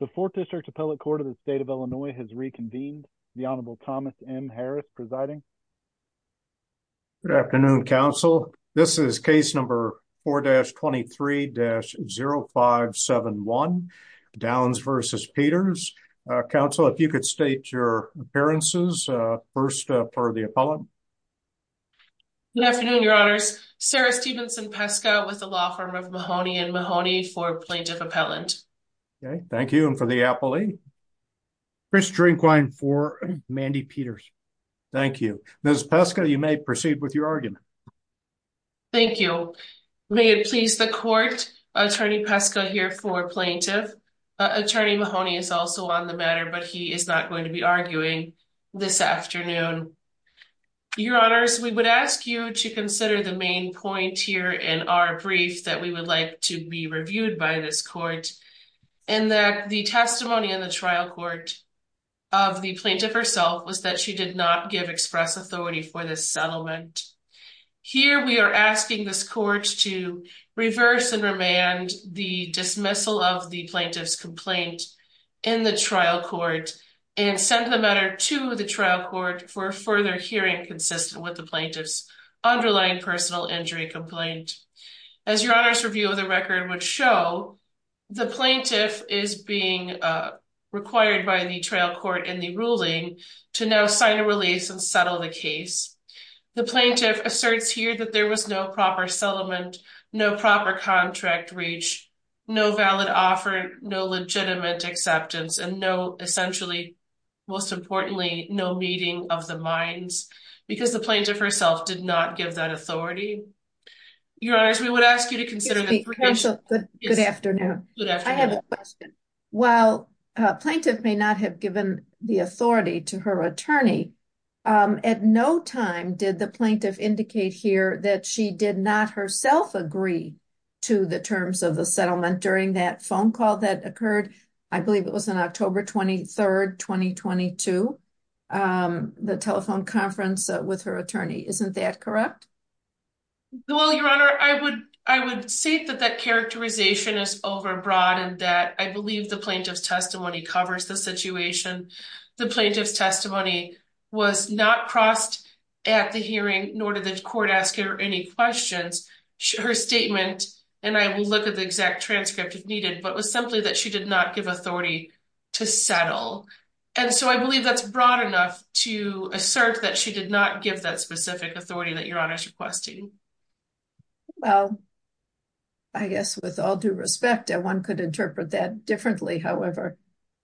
The 4th District Appellate Court of the State of Illinois has reconvened. The Honorable Thomas M. Harris presiding. Good afternoon, counsel. This is case number 4-23-0571, Downs v. Peters. Counsel, if you could state your appearances, first for the appellant. Good afternoon, your honors. Sarah Stevenson Pesco with the law firm of Mahoney and Mahoney for plaintiff appellant. Okay, thank you. And for the appellee, Chris Drinkwine for Mandy Peters. Thank you. Ms. Pesco, you may proceed with your argument. Thank you. May it please the court, Attorney Pesco here for plaintiff. Attorney Mahoney is also on the matter, but he is not going to be arguing this afternoon. Your honors, we would ask you to consider the main point here in our brief that we would like to be reviewed by this court, and that the testimony in the trial court of the plaintiff herself was that she did not give express authority for this settlement. Here we are asking this court to reverse and remand the dismissal of the plaintiff's complaint in the trial court and send the matter to the trial court for further hearing consistent with the plaintiff's underlying personal injury complaint. As your honors review of the record would show, the plaintiff is being required by the trial court in the ruling to now sign a release and settle the case. The plaintiff asserts here that there was no proper settlement, no proper contract reach, no valid offer, no legitimate acceptance, and no essentially, most importantly, no meeting of the minds, because the plaintiff herself did not give that authority. Your honors, we would ask you to consider... Good afternoon. I have a question. While plaintiff may not have given the authority to her attorney, at no time did the plaintiff indicate here that she did not herself agree to the terms of the settlement during that phone call that occurred, I believe it was on October 23rd, 2022, the telephone conference with her attorney. Isn't that correct? Well, your honor, I would say that that characterization is overbroad and that I believe the plaintiff's testimony covers the situation. The plaintiff's testimony was not crossed at the hearing, nor did the court ask her any questions. Her statement, and I will look at the exact transcript if needed, but was simply that she did not give authority to settle. And so I believe that's broad enough to assert that she did not give that specific authority that your honor is requesting. Well, I guess with all due respect, one could interpret that differently. However,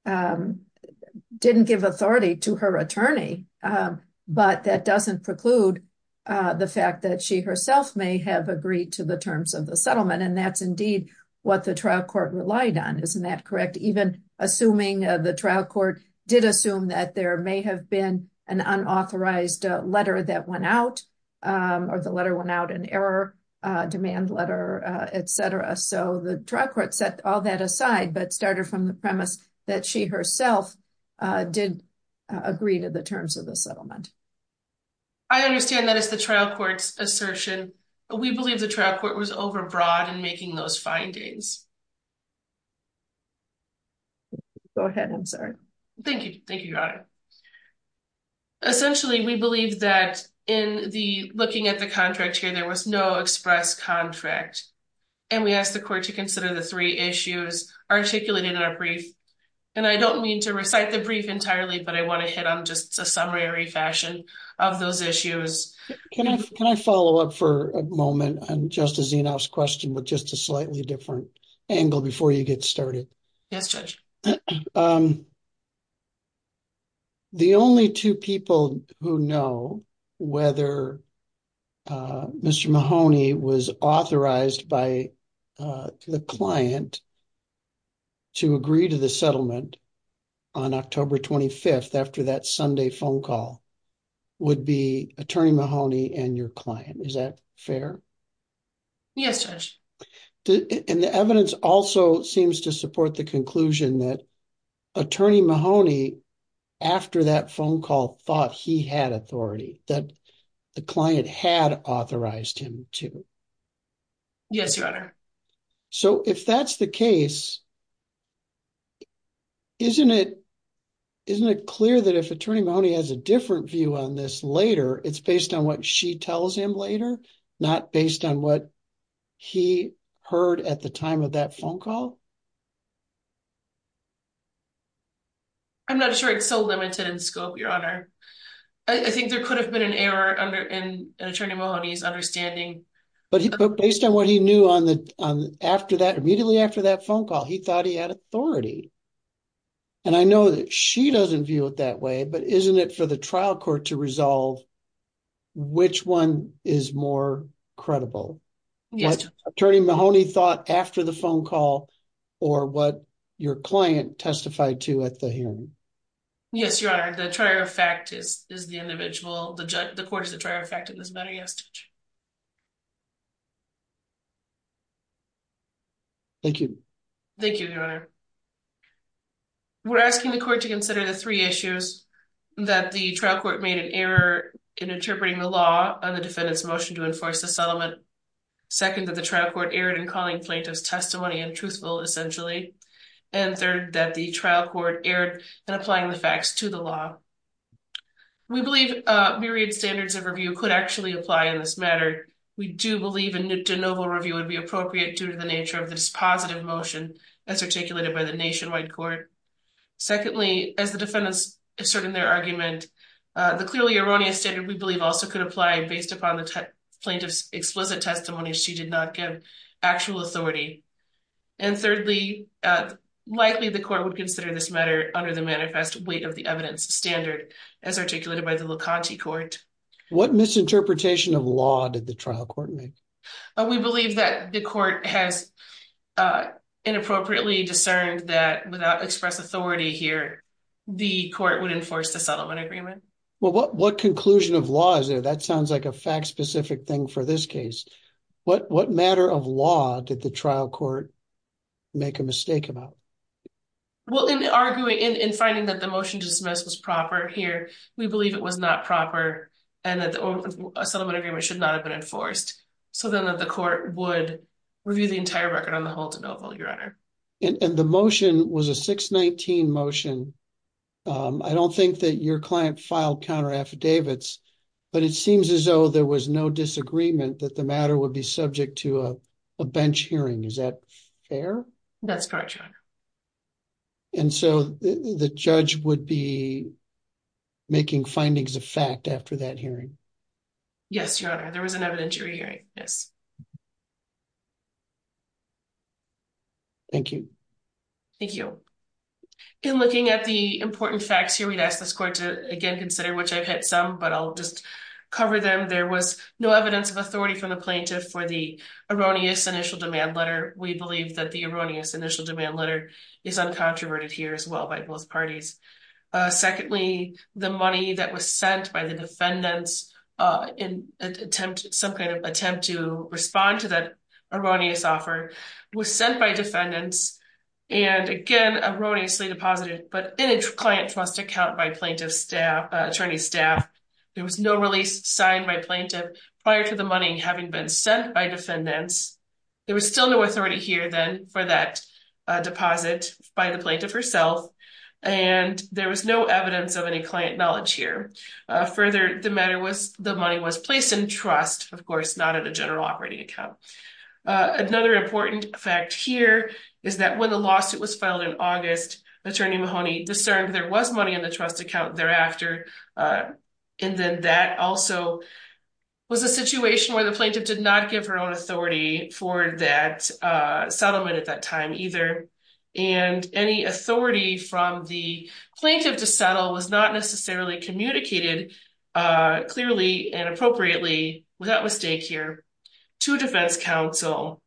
didn't give authority to her attorney, but that doesn't preclude the fact that she herself may have agreed to the terms of the settlement. And that's indeed what the trial court relied on. Isn't that correct? Even assuming the trial court did assume that there may have been an unauthorized letter that went out or the letter went out in error, a demand letter, et cetera. So the trial court set all that aside, but started from the that she herself did agree to the terms of the settlement. I understand that it's the trial court's assertion, but we believe the trial court was overbroad in making those findings. Go ahead, I'm sorry. Thank you. Thank you, your honor. Essentially, we believe that in the looking at the contract here, there was no express contract. And we asked the court to consider the three issues articulated in our brief. And I don't mean to recite the brief entirely, but I want to hit on just a summary fashion of those issues. Can I follow up for a moment on Justice Zenoff's question with just a slightly different angle before you get started? Yes, judge. The only two people who know whether Mr. Mahoney was authorized by the client to agree to the settlement on October 25th after that Sunday phone call would be attorney Mahoney and your client. Is that fair? Yes, judge. And the evidence also seems to support the conclusion that attorney Mahoney, after that phone call, thought he had authority, that the client had authorized him to. Yes, your honor. So if that's the case, isn't it clear that if attorney Mahoney has a different view on this later, it's based on what she tells him later, not based on what he heard at the time of that phone call? I'm not sure it's so limited in scope, your honor. I think there could have been an error in attorney Mahoney's understanding. But based on what he knew immediately after that phone call, he thought he had authority. And I know that she doesn't view it that way, but isn't it for the trial court to resolve which one is more credible? Yes, attorney Mahoney thought after the phone call or what your client testified to at the hearing. Yes, your honor. The trier of fact is the individual, the court is the trier of fact in this matter. Yes, judge. Thank you. Thank you, your honor. We're asking the court to consider the three issues that the trial court made an error in interpreting the law on the defendant's motion to enforce the Second, that the trial court erred in calling plaintiff's testimony untruthful, essentially. And third, that the trial court erred in applying the facts to the law. We believe myriad standards of review could actually apply in this matter. We do believe a de novo review would be appropriate due to the nature of the dispositive motion as articulated by the nationwide court. Secondly, as the defendants assert in their argument, the clearly erroneous standard we believe also could apply based upon the plaintiff's explicit testimony. She did not give actual authority. And thirdly, likely the court would consider this matter under the manifest weight of the evidence standard as articulated by the La Conte court. What misinterpretation of law did the trial court make? We believe that the court has inappropriately discerned that without express authority here, the court would enforce the settlement agreement. Well, what conclusion of law is there? That sounds like a fact-specific thing for this case. What matter of law did the trial court make a mistake about? Well, in arguing, in finding that the motion dismissed was proper here, we believe it was not proper and that the settlement agreement should not have been enforced. So then that the court would review the entire record on the whole de novo, your honor. And the motion was a 619 motion. I don't think that your client filed counter affidavits, but it seems as though there was no disagreement that the matter would be subject to a bench hearing. Is that fair? That's correct, your honor. And so the judge would be making findings of fact after that hearing? Yes, your honor. There was an evidentiary hearing. Yes. Thank you. Thank you. In looking at the important facts here, we'd ask this court to again, consider, which I've hit some, but I'll just cover them. There was no evidence of authority from the plaintiff for the erroneous initial demand letter. We believe that the erroneous initial demand letter is uncontroverted here as well by both parties. Secondly, the money that was sent by the defendants in attempt, some kind of attempt to respond to that erroneous offer was sent by defendants. And again, erroneously deposited, but in a client trust account by plaintiff staff, attorney staff, there was no release signed by plaintiff prior to the money having been sent by defendants. There was still no authority here then for that deposit by the plaintiff herself. And there was no evidence of any client knowledge here. Further, the matter fact here is that when the lawsuit was filed in August, attorney Mahoney discerned there was money in the trust account thereafter. And then that also was a situation where the plaintiff did not give her own authority for that settlement at that time either. And any authority from the plaintiff to settle was not necessarily communicated clearly and appropriately without mistake here to defense counsel.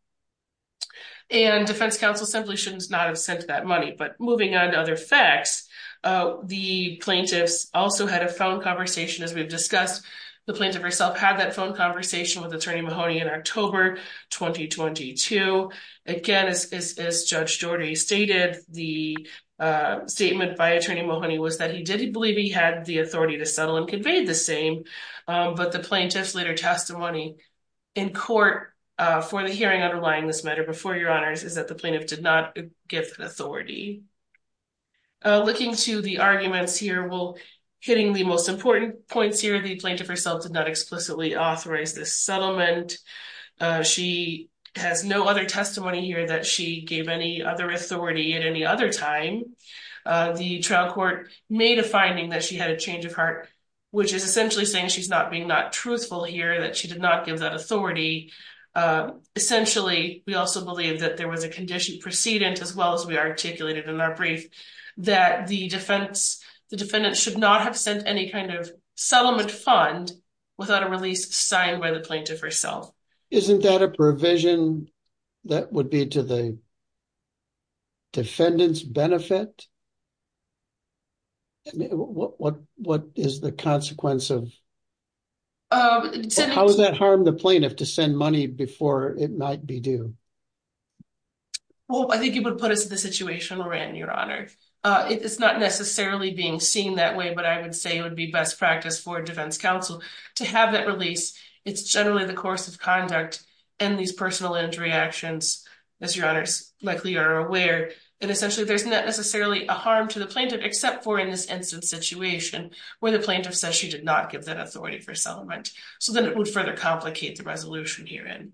And defense counsel simply should not have sent that money. But moving on to other facts, the plaintiffs also had a phone conversation as we've discussed. The plaintiff herself had that phone conversation with attorney Mahoney in October 2022. Again, as Judge Jordy stated, the statement by attorney Mahoney was that he didn't believe he the authority to settle and conveyed the same. But the plaintiff's later testimony in court for the hearing underlying this matter before your honors is that the plaintiff did not give authority. Looking to the arguments here, well, hitting the most important points here, the plaintiff herself did not explicitly authorize this settlement. She has no other testimony here that she gave any other authority at any other time. The trial court made a finding that she had a change of heart, which is essentially saying she's not being not truthful here, that she did not give that authority. Essentially, we also believe that there was a condition precedent as well as we articulated in our brief that the defendant should not have sent any kind of settlement fund without a release signed by the plaintiff herself. Isn't that a provision that would be to the defendant's benefit? What is the consequence of... How does that harm the plaintiff to send money before it might be due? Well, I think it would put us in the situation we're in, your honor. It's not necessarily being seen that way, but I would say it would be best practice for defense counsel to have that release. It's generally the course of conduct and these personal injury actions, as your honors likely are aware, and essentially there's not necessarily a harm to the plaintiff except for in this instant situation where the plaintiff says she did not give that authority for settlement. So then it would further complicate the resolution herein.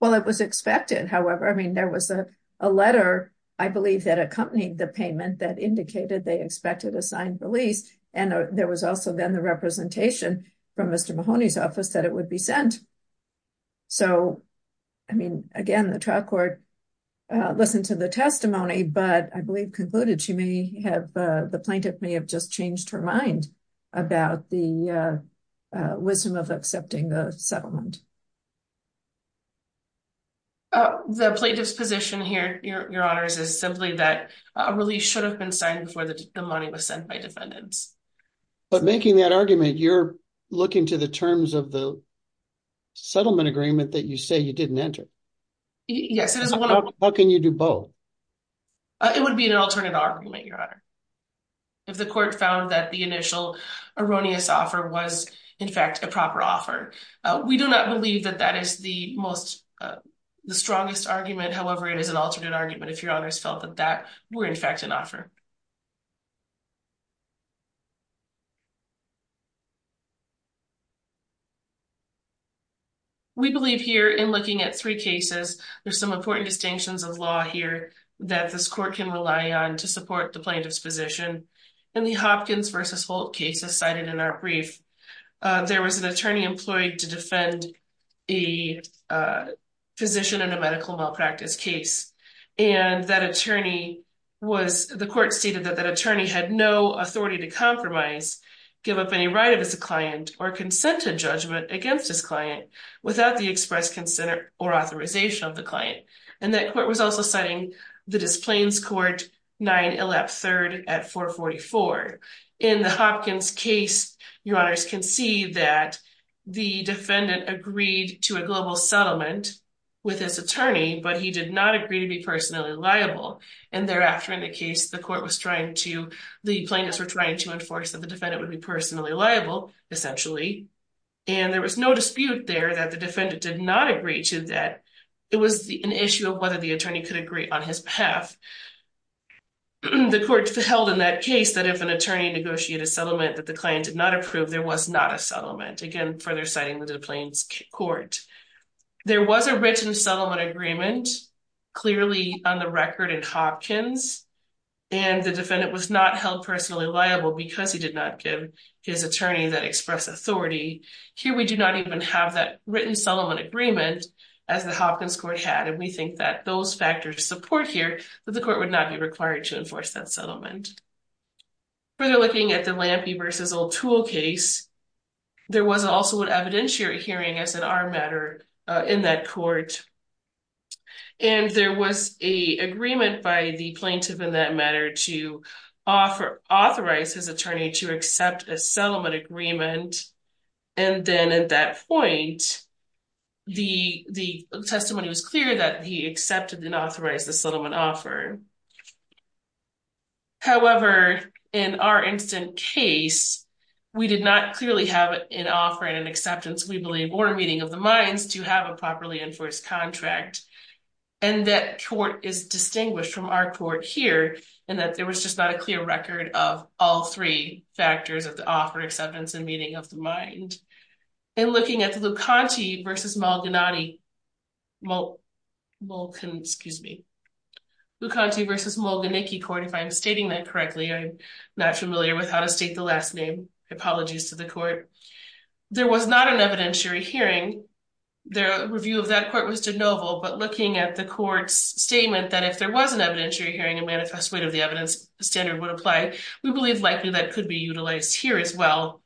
Well, it was expected, however. I mean, there was a letter, I believe, that accompanied the payment that indicated they expected a signed release, and there was also then the representation from Mr. Mahoney's office that it would be sent. So, I mean, again, the trial court listened to the testimony, but I believe concluded she may have... The plaintiff may have just changed her mind about the wisdom of accepting the settlement. The plaintiff's position here, your honors, is simply that a release should have been signed before the money was sent by defendants. But making that argument, you're looking to the terms of the settlement agreement that you say you didn't enter. Yes. How can you do both? It would be an alternate argument, your honor, if the court found that the initial erroneous offer was, in fact, a proper offer. We do not believe that that is the strongest argument. However, it is an alternate argument if your honors felt that that were, in fact, an offer. We believe here in looking at three cases, there's some important distinctions of law here that this court can rely on to support the plaintiff's position. In the Hopkins v. Holt cases cited in our brief, there was an attorney employed to defend a physician in a medical hospital. That attorney had no authority to compromise, give up any right of his client, or consent to judgment against his client without the express consent or authorization of the client. And that court was also citing the Displains Court, 9 Illap III at 444. In the Hopkins case, your honors can see that the defendant agreed to a global settlement with his attorney, but he did not agree to be personally liable. And thereafter in the case, the court was the plaintiffs were trying to enforce that the defendant would be personally liable, essentially. And there was no dispute there that the defendant did not agree to that. It was an issue of whether the attorney could agree on his behalf. The court held in that case that if an attorney negotiated a settlement that the client did not approve, there was not a settlement. Again, further citing the Displains Court. There was a written settlement agreement, clearly on the record in Hopkins. And the defendant was not held personally liable because he did not give his attorney that express authority. Here we do not even have that written settlement agreement as the Hopkins Court had. And we think that those factors support here, that the court would not be required to enforce that settlement. Further looking at the Lampe versus O'Toole case, there was also an evidentiary hearing as an armed matter in that court. And there was a agreement by the plaintiff in that matter to authorize his attorney to accept a settlement agreement. And then at that point, the testimony was clear that he accepted and authorized the settlement offer. However, in our instant case, we did not clearly have an offer and an acceptance, we believe, or a meeting of the minds to have a properly enforced contract. And that court is distinguished from our court here, and that there was just not a clear record of all three factors of the offer, acceptance, and meeting of the mind. And looking at the Lucanti versus Mulganicki Court, if I'm stating that correctly, I'm not familiar with how to the last name, apologies to the court. There was not an evidentiary hearing, the review of that court was de novo, but looking at the court's statement that if there was an evidentiary hearing and manifest weight of the evidence standard would apply, we believe likely that could be utilized here as well.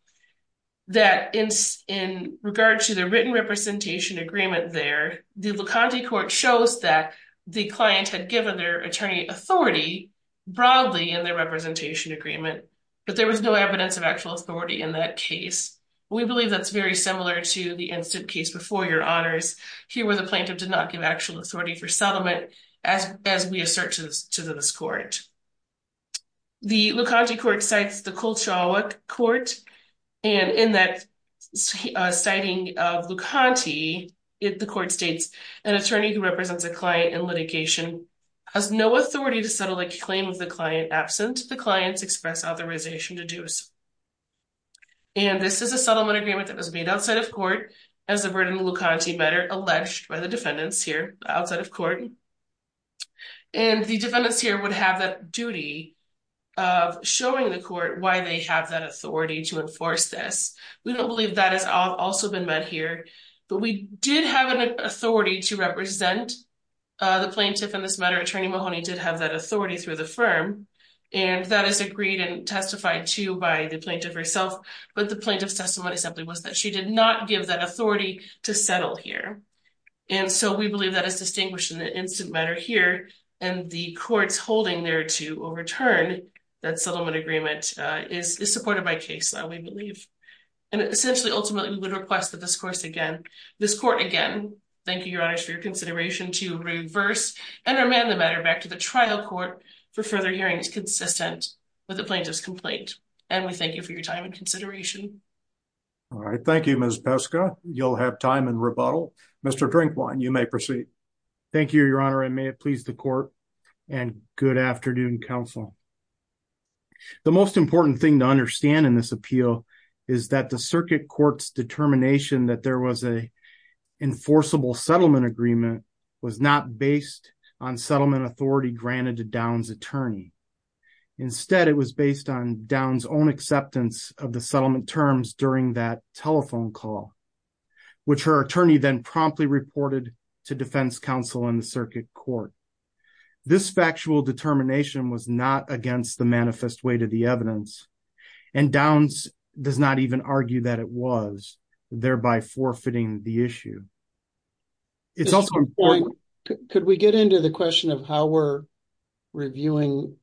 That in regard to the written representation agreement there, the Lucanti Court shows that the client had given their attorney authority broadly in their representation agreement, but there was no evidence of actual authority in that case. We believe that's very similar to the instant case before your honors, here where the plaintiff did not give actual authority for settlement, as we assert to this court. The Lucanti Court cites the Kulcha court, and in that citing of Lucanti, the court states, an attorney who represents a client in litigation has no authority to settle a claim of the client absent the client's express authorization to do so. And this is a settlement agreement that was made outside of court as a written Lucanti matter alleged by the defendants here outside of court, and the defendants here would have that duty of showing the court why they have that authority to enforce this. We don't believe that has also been met here, but we did have an authority to represent the plaintiff in this matter. Attorney Mahoney did have that authority through the firm, and that is agreed and testified to by the plaintiff herself, but the plaintiff's testimony simply was that she did not give that authority to settle here. And so we believe that is distinguished in the instant matter here, and the court's holding there to overturn that settlement agreement is supported by case, we believe. And essentially, ultimately, we would request that this court again, thank you, your honors, for your consideration, to reverse and remand the the plaintiff's complaint, and we thank you for your time and consideration. All right. Thank you, Ms. Peska. You'll have time in rebuttal. Mr. Drinkwine, you may proceed. Thank you, your honor. I may have pleased the court and good afternoon, counsel. The most important thing to understand in this appeal is that the circuit court's determination that there was a enforceable settlement agreement was not based on settlement authority granted to Downs' attorney. Instead, it was based on Downs' own acceptance of the settlement terms during that telephone call, which her attorney then promptly reported to defense counsel in the circuit court. This factual determination was not against the manifest weight of the evidence, and Downs does not even argue that it was, thereby forfeiting the issue. Mr. Drinkwine, could we get into the question of how we're reviewing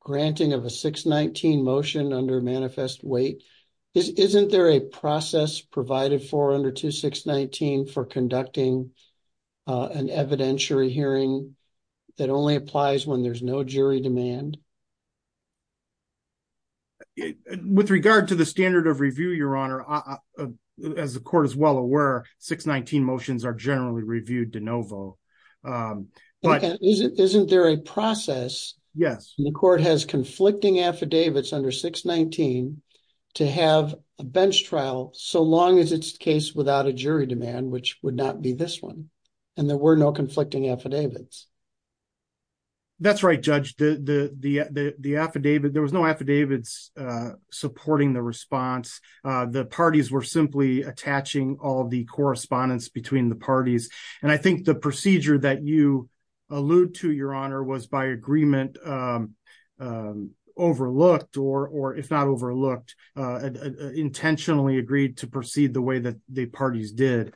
granting of a 619 motion under manifest weight? Isn't there a process provided for under 2619 for conducting an evidentiary hearing that only applies when there's no jury demand? With regard to the standard of review, your honor, as the court is well aware, 619 motions are generally reviewed de novo. Isn't there a process? Yes. The court has conflicting affidavits under 619 to have a bench trial so long as it's case without a jury demand, which would not be this one, and there were no conflicting affidavits. That's right, judge. There was no affidavits supporting the response. The parties were attaching all the correspondence between the parties, and I think the procedure that you allude to, your honor, was by agreement overlooked or, if not overlooked, intentionally agreed to proceed the way that the parties did.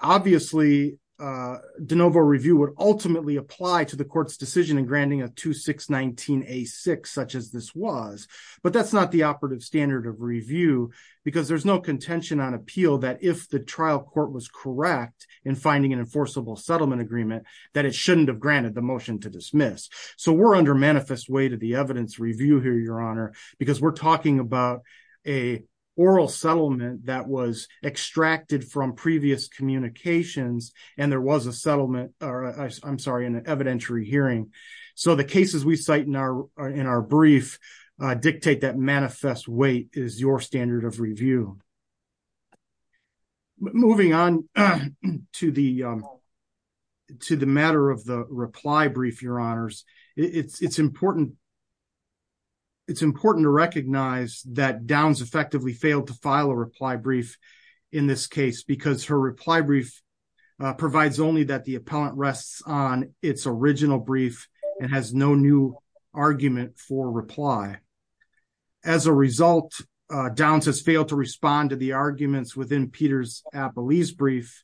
Obviously, de novo review would ultimately apply to the court's decision in granting a 2619A6, such as this was, but that's not the operative standard of review because there's no contention on appeal that if the trial court was correct in finding an enforceable settlement agreement, that it shouldn't have granted the motion to dismiss. We're under manifest weight of the evidence review here, your honor, because we're talking about an oral settlement that was extracted from previous communications, and there was an evidentiary hearing, so the cases we cite in our brief dictate that manifest weight is your standard of review. Moving on to the matter of the reply brief, your honors, it's important it's important to recognize that Downs effectively failed to file a reply brief in this case because her reply brief provides only that the appellant rests on its original brief and has no new argument for reply. As a result, Downs has failed to respond to the arguments within Peter's appellee's brief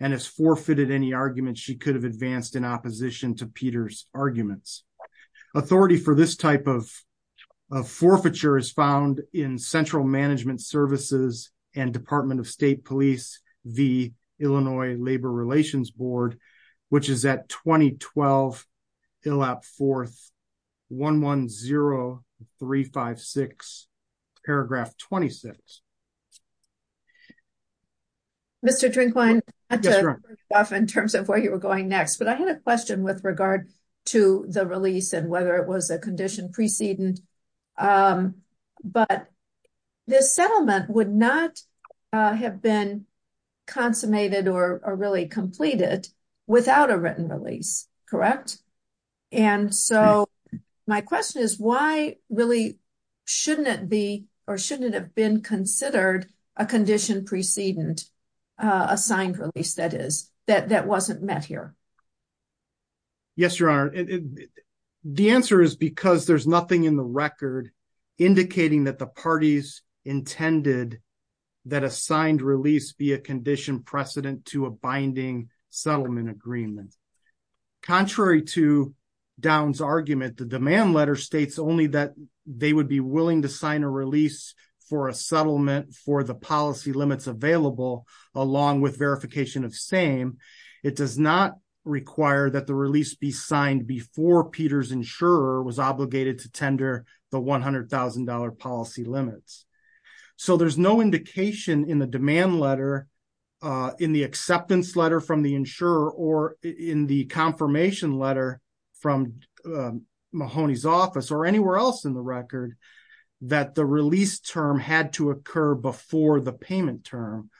and has forfeited any arguments she could have advanced in opposition to Peter's arguments. Authority for this type of forfeiture is found in Central Management Services and Department of State Police v. Illinois Labor Relations Board, which is at 2012 ILAP 4th, 110356, paragraph 26. Mr. Drinkwine, in terms of where you were going next, I had a question with regard to the release and whether it was a condition precedent, but this settlement would not have been consummated or really completed without a written release, correct? And so my question is why really shouldn't it be or shouldn't have been considered a condition precedent, a signed release that is, that wasn't met here? Yes, your honor, the answer is because there's nothing in the record indicating that the parties intended that a signed release be a condition precedent to a binding settlement agreement. Contrary to Downs' argument, the demand letter states only that they would be willing to sign a release for a settlement for the policy limits available along with verification of same. It does not require that the release be signed before Peter's insurer was obligated to tender the $100,000 policy limits. So there's no indication in the demand letter, in the acceptance letter from the insurer or in the confirmation letter from Mahoney's office or anywhere else in the record that the release term had to occur before the payment term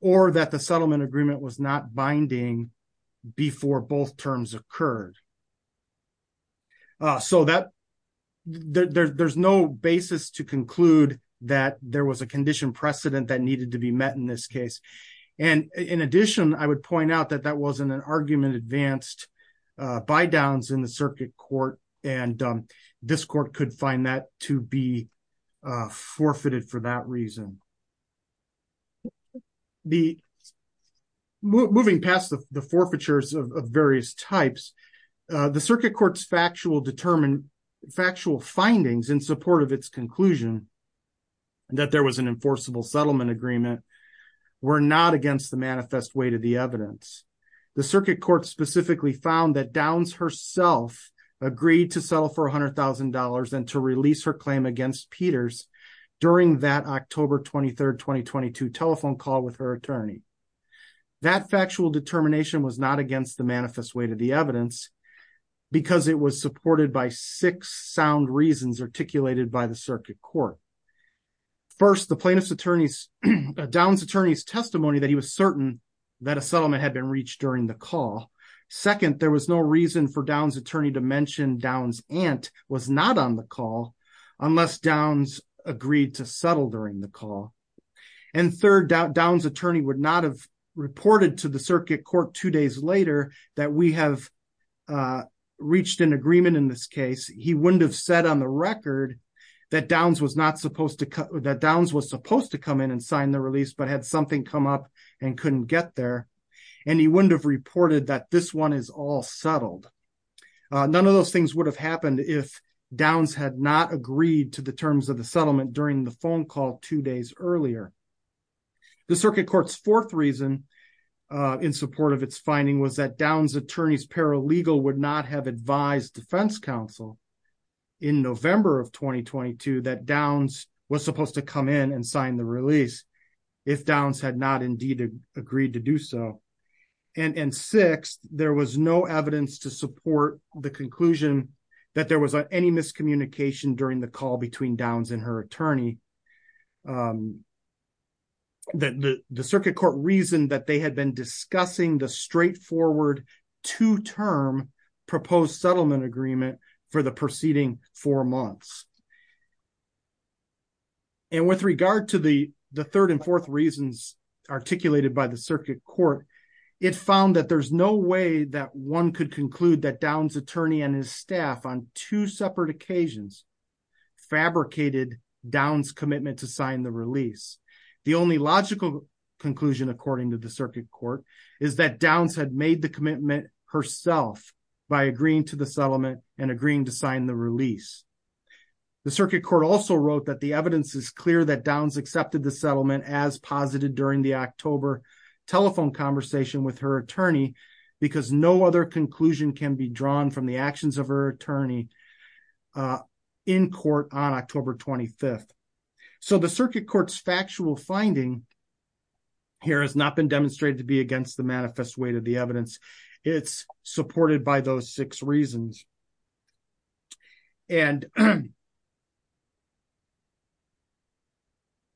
or that the settlement agreement was not binding before both terms occurred. So that there's no basis to conclude that there was a condition precedent that needed to be met in this case. And in addition, I would point out that that wasn't an argument advanced by Downs in the circuit court and this court could find that to be forfeited for that reason. Moving past the forfeitures of various types, the circuit court's factual findings in support of its conclusion that there was an enforceable settlement agreement were not against the manifest way to the evidence. The circuit court specifically found that Downs herself agreed to settle for $100,000 and to release her claim against Peters during that October 23rd, 2022 telephone call with her attorney. That factual determination was not against the manifest way to the evidence because it was supported by six sound reasons articulated by the circuit court. First, the plaintiff's attorney's, Downs attorney's testimony that he was certain that a settlement had been reached during the call. Second, there was no reason for Downs attorney to mention Downs aunt was not on the call unless Downs agreed to settle during the call. And third, Downs attorney would not have reported to the circuit court two days later that we have reached an agreement in this case. He wouldn't have said on the record that Downs was supposed to come in and sign the release, but had something come up and couldn't get there. And he wouldn't have reported that this one is all settled. None of those things would have happened if Downs had not agreed to the terms of the settlement during the phone call two days earlier. The circuit court's fourth reason in support of its finding was that Downs attorney's paralegal would not have advised defense counsel in November of 2022 that Downs was supposed to come in and sign the release if Downs had not indeed agreed to do so. And sixth, there was no evidence to support the conclusion that there was any miscommunication during the call between Downs and her attorney. The circuit court reasoned that they had been discussing the straightforward two-term proposed settlement agreement for the preceding four months. And with regard to the third and fourth reasons articulated by the circuit court, it found that there's no way that one could conclude that Downs attorney and his staff on two separate occasions fabricated Downs commitment to sign the release. The only logical conclusion according to the circuit court is that Downs had made the commitment herself by agreeing to the settlement and agreeing to sign the release. The circuit court also wrote that the evidence is clear that Downs accepted the settlement as posited during the October telephone conversation with her attorney because no other conclusion can be drawn from the actions of her attorney in court on October 25th. So the circuit court's factual finding here has not been demonstrated to be against the manifest weight of the evidence. It's supported by those six reasons. And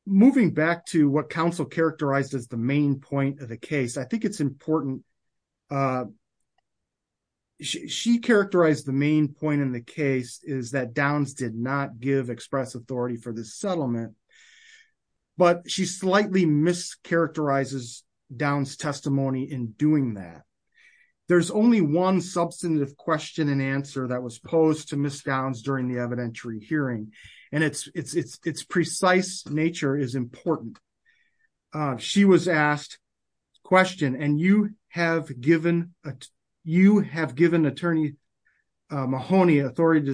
moving back to what counsel characterized as the main point of the case, I think it's important. She characterized the main point in the case is that Downs did not give express authority for this settlement, but she slightly mischaracterizes Downs testimony in doing that. There's only one substantive question and answer that was posed to Miss Downs during the evidentiary hearing, and it's precise nature is important. She was asked the question, and have you given attorney Mahoney authority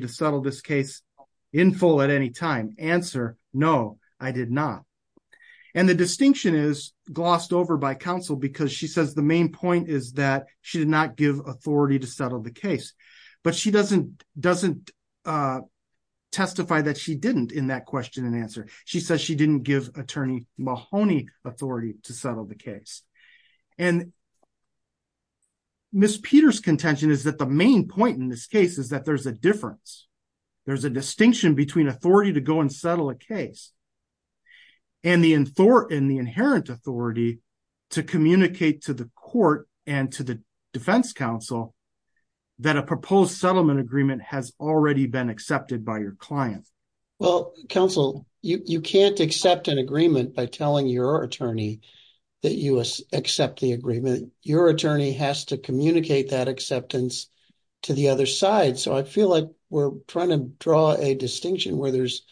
to settle this case in full at any time? Answer, no, I did not. And the distinction is glossed over by counsel because she says the main point is that she did not give authority to settle the case, but she doesn't testify that she didn't in that question and answer. She says she didn't give attorney Mahoney authority to settle the case. And Miss Peter's contention is that the main point in this case is that there's a difference. There's a distinction between authority to go and settle a case and the inherent authority to communicate to the court and to the defense counsel that a proposed settlement agreement has already been accepted by your client. Well, counsel, you can't accept an agreement by telling your attorney that you accept the agreement. Your attorney has to communicate that acceptance to the other side. So, I feel like we're trying to draw a distinction where there's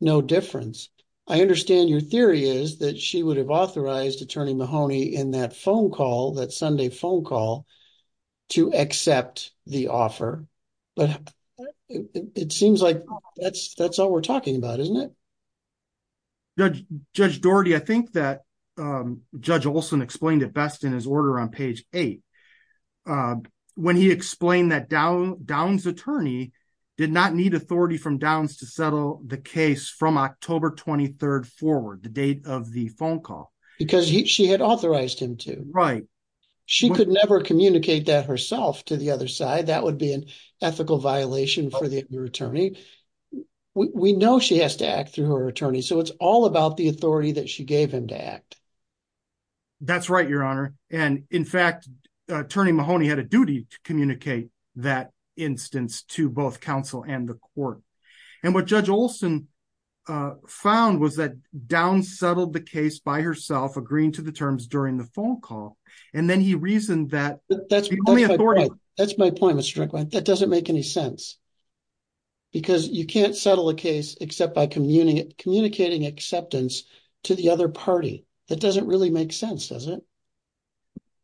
no difference. I understand your theory is that she would have authorized attorney Mahoney in that phone call, that Sunday phone call, to accept the offer, but it seems like that's all we're talking about, isn't it? Judge Dougherty, I think that Judge Olson explained it best in his order on page eight, when he explained that Downs' attorney did not need authority from Downs to settle the case from October 23rd forward, the date of the phone call. Because she had authorized him to. Right. She could never communicate that herself to the other side. That would be an ethical violation for your attorney. We know she has to act through her attorney, so it's all about the authority that she gave him to act. That's right, your honor. And in fact, attorney Mahoney had a duty to communicate that instance to both counsel and the court. And what Judge Olson found was that Downs settled the case by herself, agreeing to the terms during the phone call, and then he reasoned that... That's my point, Mr. Strickland. That doesn't make any sense. Because you can't settle a case except by communicating acceptance to the other party. That doesn't really make sense, does it?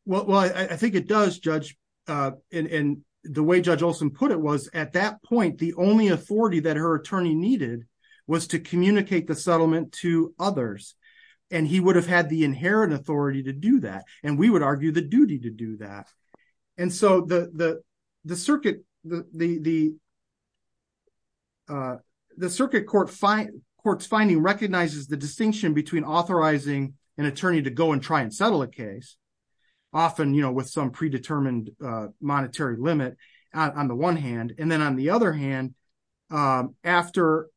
Well, I think it does, Judge. And the way Judge Olson put it was, at that point, the only authority that her attorney needed was to communicate the settlement to others. And he would have had the inherent authority to do that. And we would argue the duty to do that. And so the circuit court's finding recognizes the distinction between authorizing an attorney to go and try and settle a case, often with some predetermined monetary limit on the one hand, and then on the other hand, after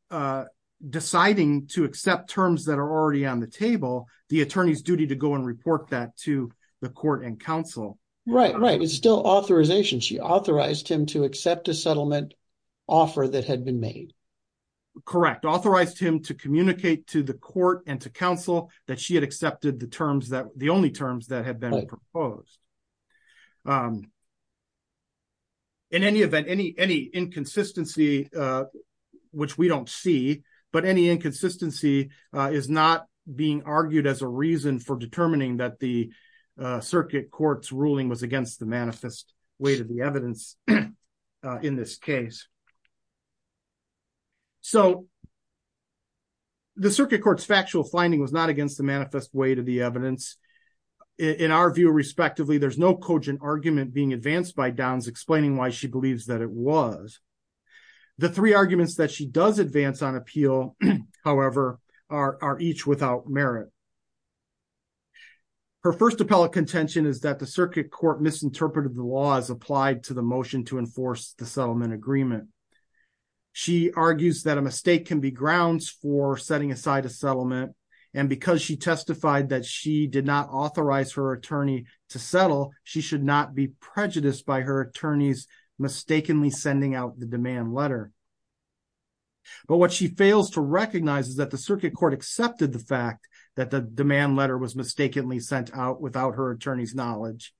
deciding to accept terms that are already on the table, the attorney's duty to go and report that to the court and counsel. Right, right. It's still authorization. She authorized him to accept a settlement offer that had been made. Correct. Authorized him to communicate to the court and to counsel that she had accepted the only terms that had been proposed. In any event, any inconsistency, which we don't see, but any inconsistency is not being argued as a reason for determining that the circuit court's ruling was against the manifest way to the evidence in this case. So the circuit court's factual finding was not against the manifest way to the evidence. In our view, respectively, there's no cogent argument being advanced by Downs explaining why she believes that it was. The three arguments that she does advance on appeal, however, are each without merit. Her first appellate contention is that the circuit court misinterpreted the laws applied to the motion to enforce the settlement agreement. She argues that a mistake can be grounds for setting aside a settlement. And because she testified that she did not authorize her attorney to settle, she should not be prejudiced by her mistakenly sending out the demand letter. But what she fails to recognize is that the circuit court accepted the fact that the demand letter was mistakenly sent out without her attorney's knowledge.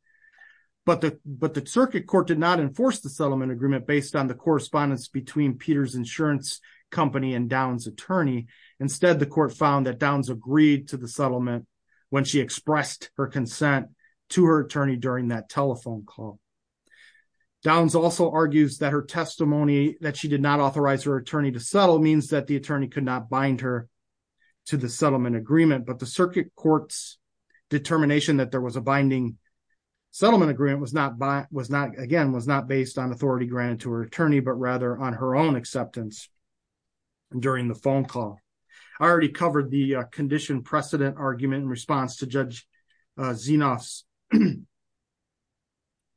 But the circuit court did not enforce the settlement agreement based on the correspondence between Peter's insurance company and Downs' attorney. Instead, the court found that Downs agreed to the settlement when she expressed her consent to her attorney during that telephone call. Downs also argues that her testimony that she did not authorize her attorney to settle means that the attorney could not bind her to the settlement agreement. But the circuit court's determination that there was a binding settlement agreement, again, was not based on authority granted to her attorney, but rather on her own acceptance during the phone call. I already covered the condition precedent argument in response to Judge Zinoff's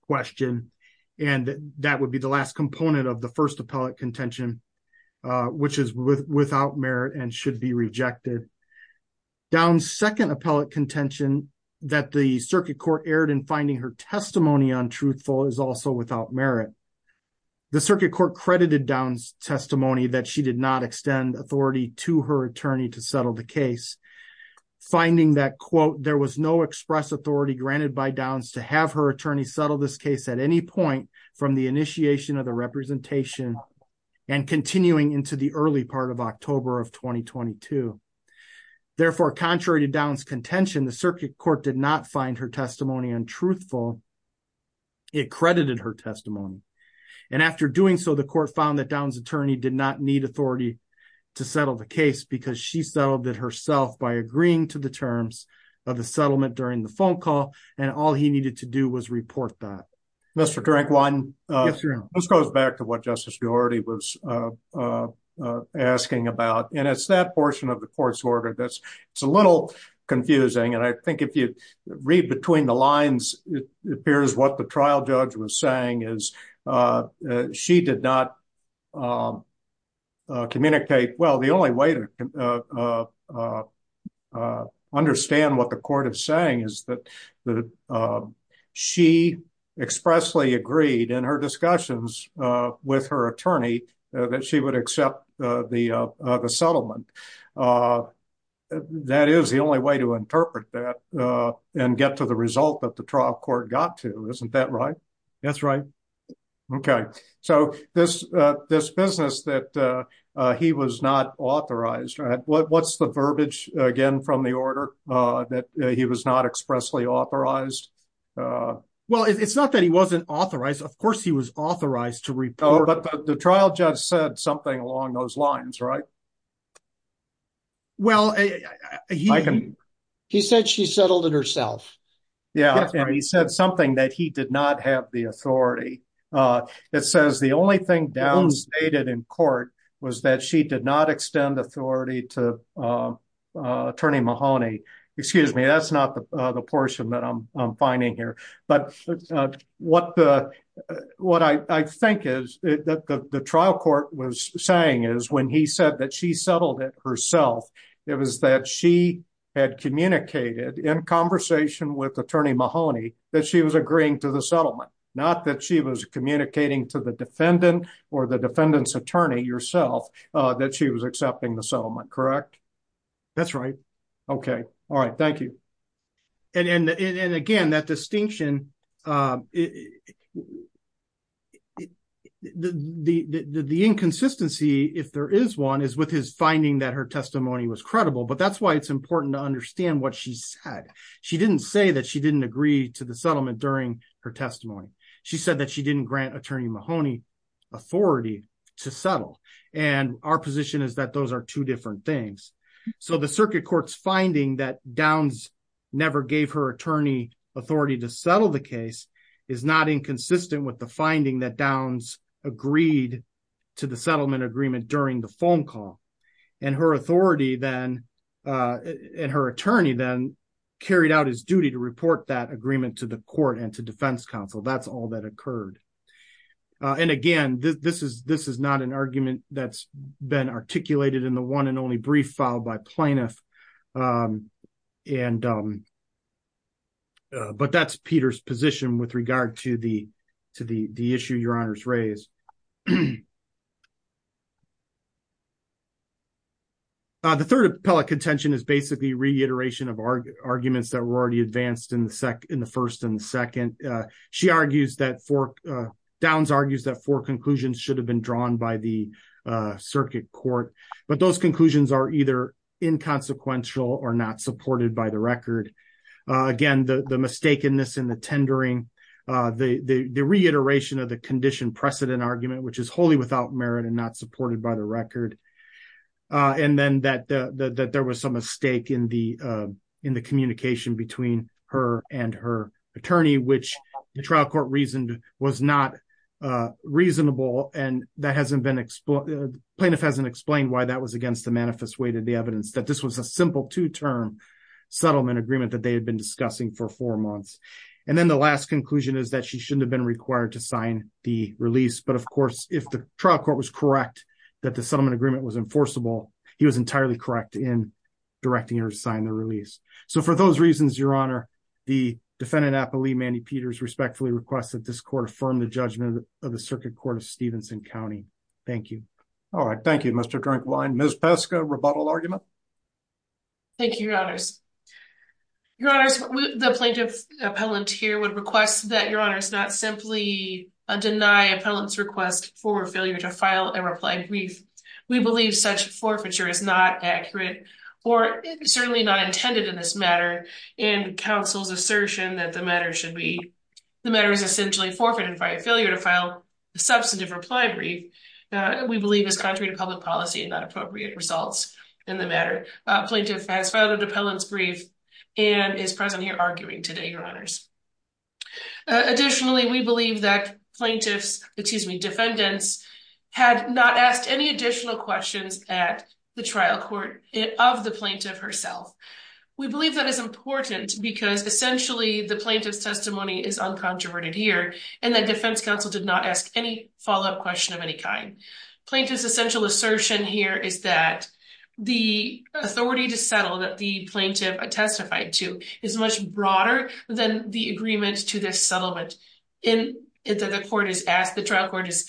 question. And that would be the last component of the first appellate contention, which is without merit and should be rejected. Downs' second appellate contention that the circuit court erred in finding her testimony untruthful is also without merit. The circuit court credited Downs' testimony that she did not extend authority to her attorney to settle the finding that, quote, there was no express authority granted by Downs to have her attorney settle this case at any point from the initiation of the representation and continuing into the early part of October of 2022. Therefore, contrary to Downs' contention, the circuit court did not find her testimony untruthful. It credited her testimony. And after doing so, the court found Downs' attorney did not need authority to settle the case because she settled it herself by agreeing to the terms of the settlement during the phone call. And all he needed to do was report that. Mr. Drankwine, this goes back to what Justice Duarte was asking about. And it's that portion of the court's order that's a little confusing. And I think if you read between the lines, it appears what the trial judge was saying is she did not communicate. Well, the only way to understand what the court is saying is that she expressly agreed in her discussions with her attorney that she would accept the settlement. That is the only way to interpret that and get to the result that the trial court got to. Isn't that right? That's right. Okay. So this business that he was not authorized, what's the verbiage again from the order that he was not expressly authorized? Well, it's not that he wasn't authorized. Of course, he was authorized to report. But the trial judge said something along those lines, right? Well, he said she settled it herself. Yeah. And he said something that he did not have the authority. It says the only thing downstated in court was that she did not extend authority to Attorney Mahoney. Excuse me, that's not the portion that I'm finding here. But what I think is that the trial court was saying is when he said that she settled it herself, it was that she had communicated in conversation with Attorney Mahoney that she was agreeing to the settlement, not that she was communicating to the defendant or the defendant's attorney yourself that she was accepting the settlement, correct? That's right. Okay. All right. Thank you. And again, that distinction, the inconsistency, if there is one, is with his finding that her testimony was credible, but that's why it's important to understand what she said. She didn't say that she didn't agree to the settlement during her testimony. She said that she didn't grant Attorney Mahoney authority to settle. And our position is that those are two different things. So the circuit court's finding that Downs never gave her attorney authority to settle the case is not inconsistent with the finding that Downs agreed to the settlement agreement during the phone call. And her attorney then carried out his duty to report that agreement to the court and to defense counsel. That's all that occurred. And again, this is not an argument that's articulated in the one and only brief filed by plaintiff. But that's Peter's position with regard to the issue your honors raised. The third appellate contention is basically reiteration of arguments that were already advanced in the first and the second. She argues that four, conclusions should have been drawn by the circuit court, but those conclusions are either inconsequential or not supported by the record. Again, the mistakenness in the tendering, the reiteration of the condition precedent argument, which is wholly without merit and not supported by the record. And then that there was some mistake in the communication between her and her attorney, which the trial court reasoned was not reasonable. And that hasn't been explained. Plaintiff hasn't explained why that was against the manifest way to the evidence that this was a simple two term settlement agreement that they had been discussing for four months. And then the last conclusion is that she shouldn't have been required to sign the release. But of course, if the trial court was correct, that the settlement agreement was enforceable, he was entirely correct in directing her to sign the release. So for those reasons, the defendant appellee, Mandy Peters respectfully requests that this court affirm the judgment of the circuit court of Stevenson County. Thank you. All right. Thank you, Mr. Drinkwine. Ms. Peska, rebuttal argument. Thank you, your honors. Your honors, the plaintiff appellant here would request that your honors not simply deny appellant's request for failure to file a reply brief. We believe such forfeiture is not accurate or certainly not intended in this matter. And counsel's assertion that the matter is essentially forfeited by a failure to file a substantive reply brief, we believe is contrary to public policy and not appropriate results in the matter. Plaintiff has filed an appellant's brief and is present here arguing today, your honors. Additionally, we believe that plaintiff's, excuse me, defendants had not asked any additional questions at the trial court of the plaintiff herself. We believe that is important because essentially the plaintiff's testimony is uncontroverted here and that defense counsel did not ask any follow-up question of any kind. Plaintiff's essential assertion here is that the authority to settle that the plaintiff testified to is much broader than the agreement to this settlement that the court has asked, the trial court is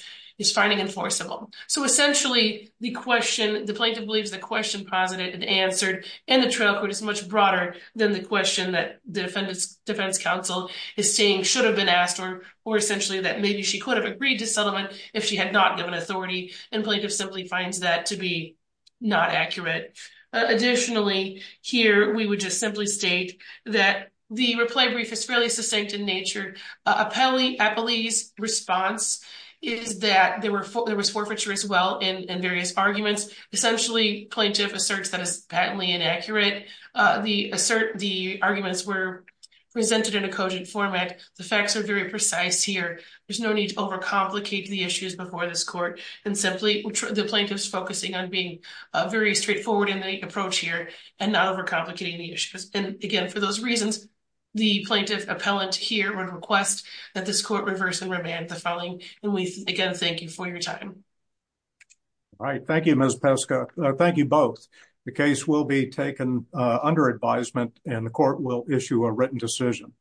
finding enforceable. So essentially the question, the plaintiff believes the question posited and answered and the trial court is much broader than the question that the defendant's defense counsel is saying should have been asked or essentially that maybe she could have agreed to settlement if she had not given authority and plaintiff simply finds that to be not accurate. Additionally, here we would just simply state that the reply brief is fairly succinct in nature. Appellee's response is that there was forfeiture as well in various arguments. Essentially plaintiff asserts that is patently inaccurate. The arguments were presented in a cogent format. The facts are very precise here. There's no need to over-complicate the issues before this court and simply the plaintiff's focusing on being very straightforward in the approach here and not over-complicating the issues and again for those reasons the plaintiff appellant here would request that this court reverse and revamp the filing and we again thank you for your time. All right, thank you Ms. Peska. Thank you both. The case will be taken under advisement and the court will issue a written decision.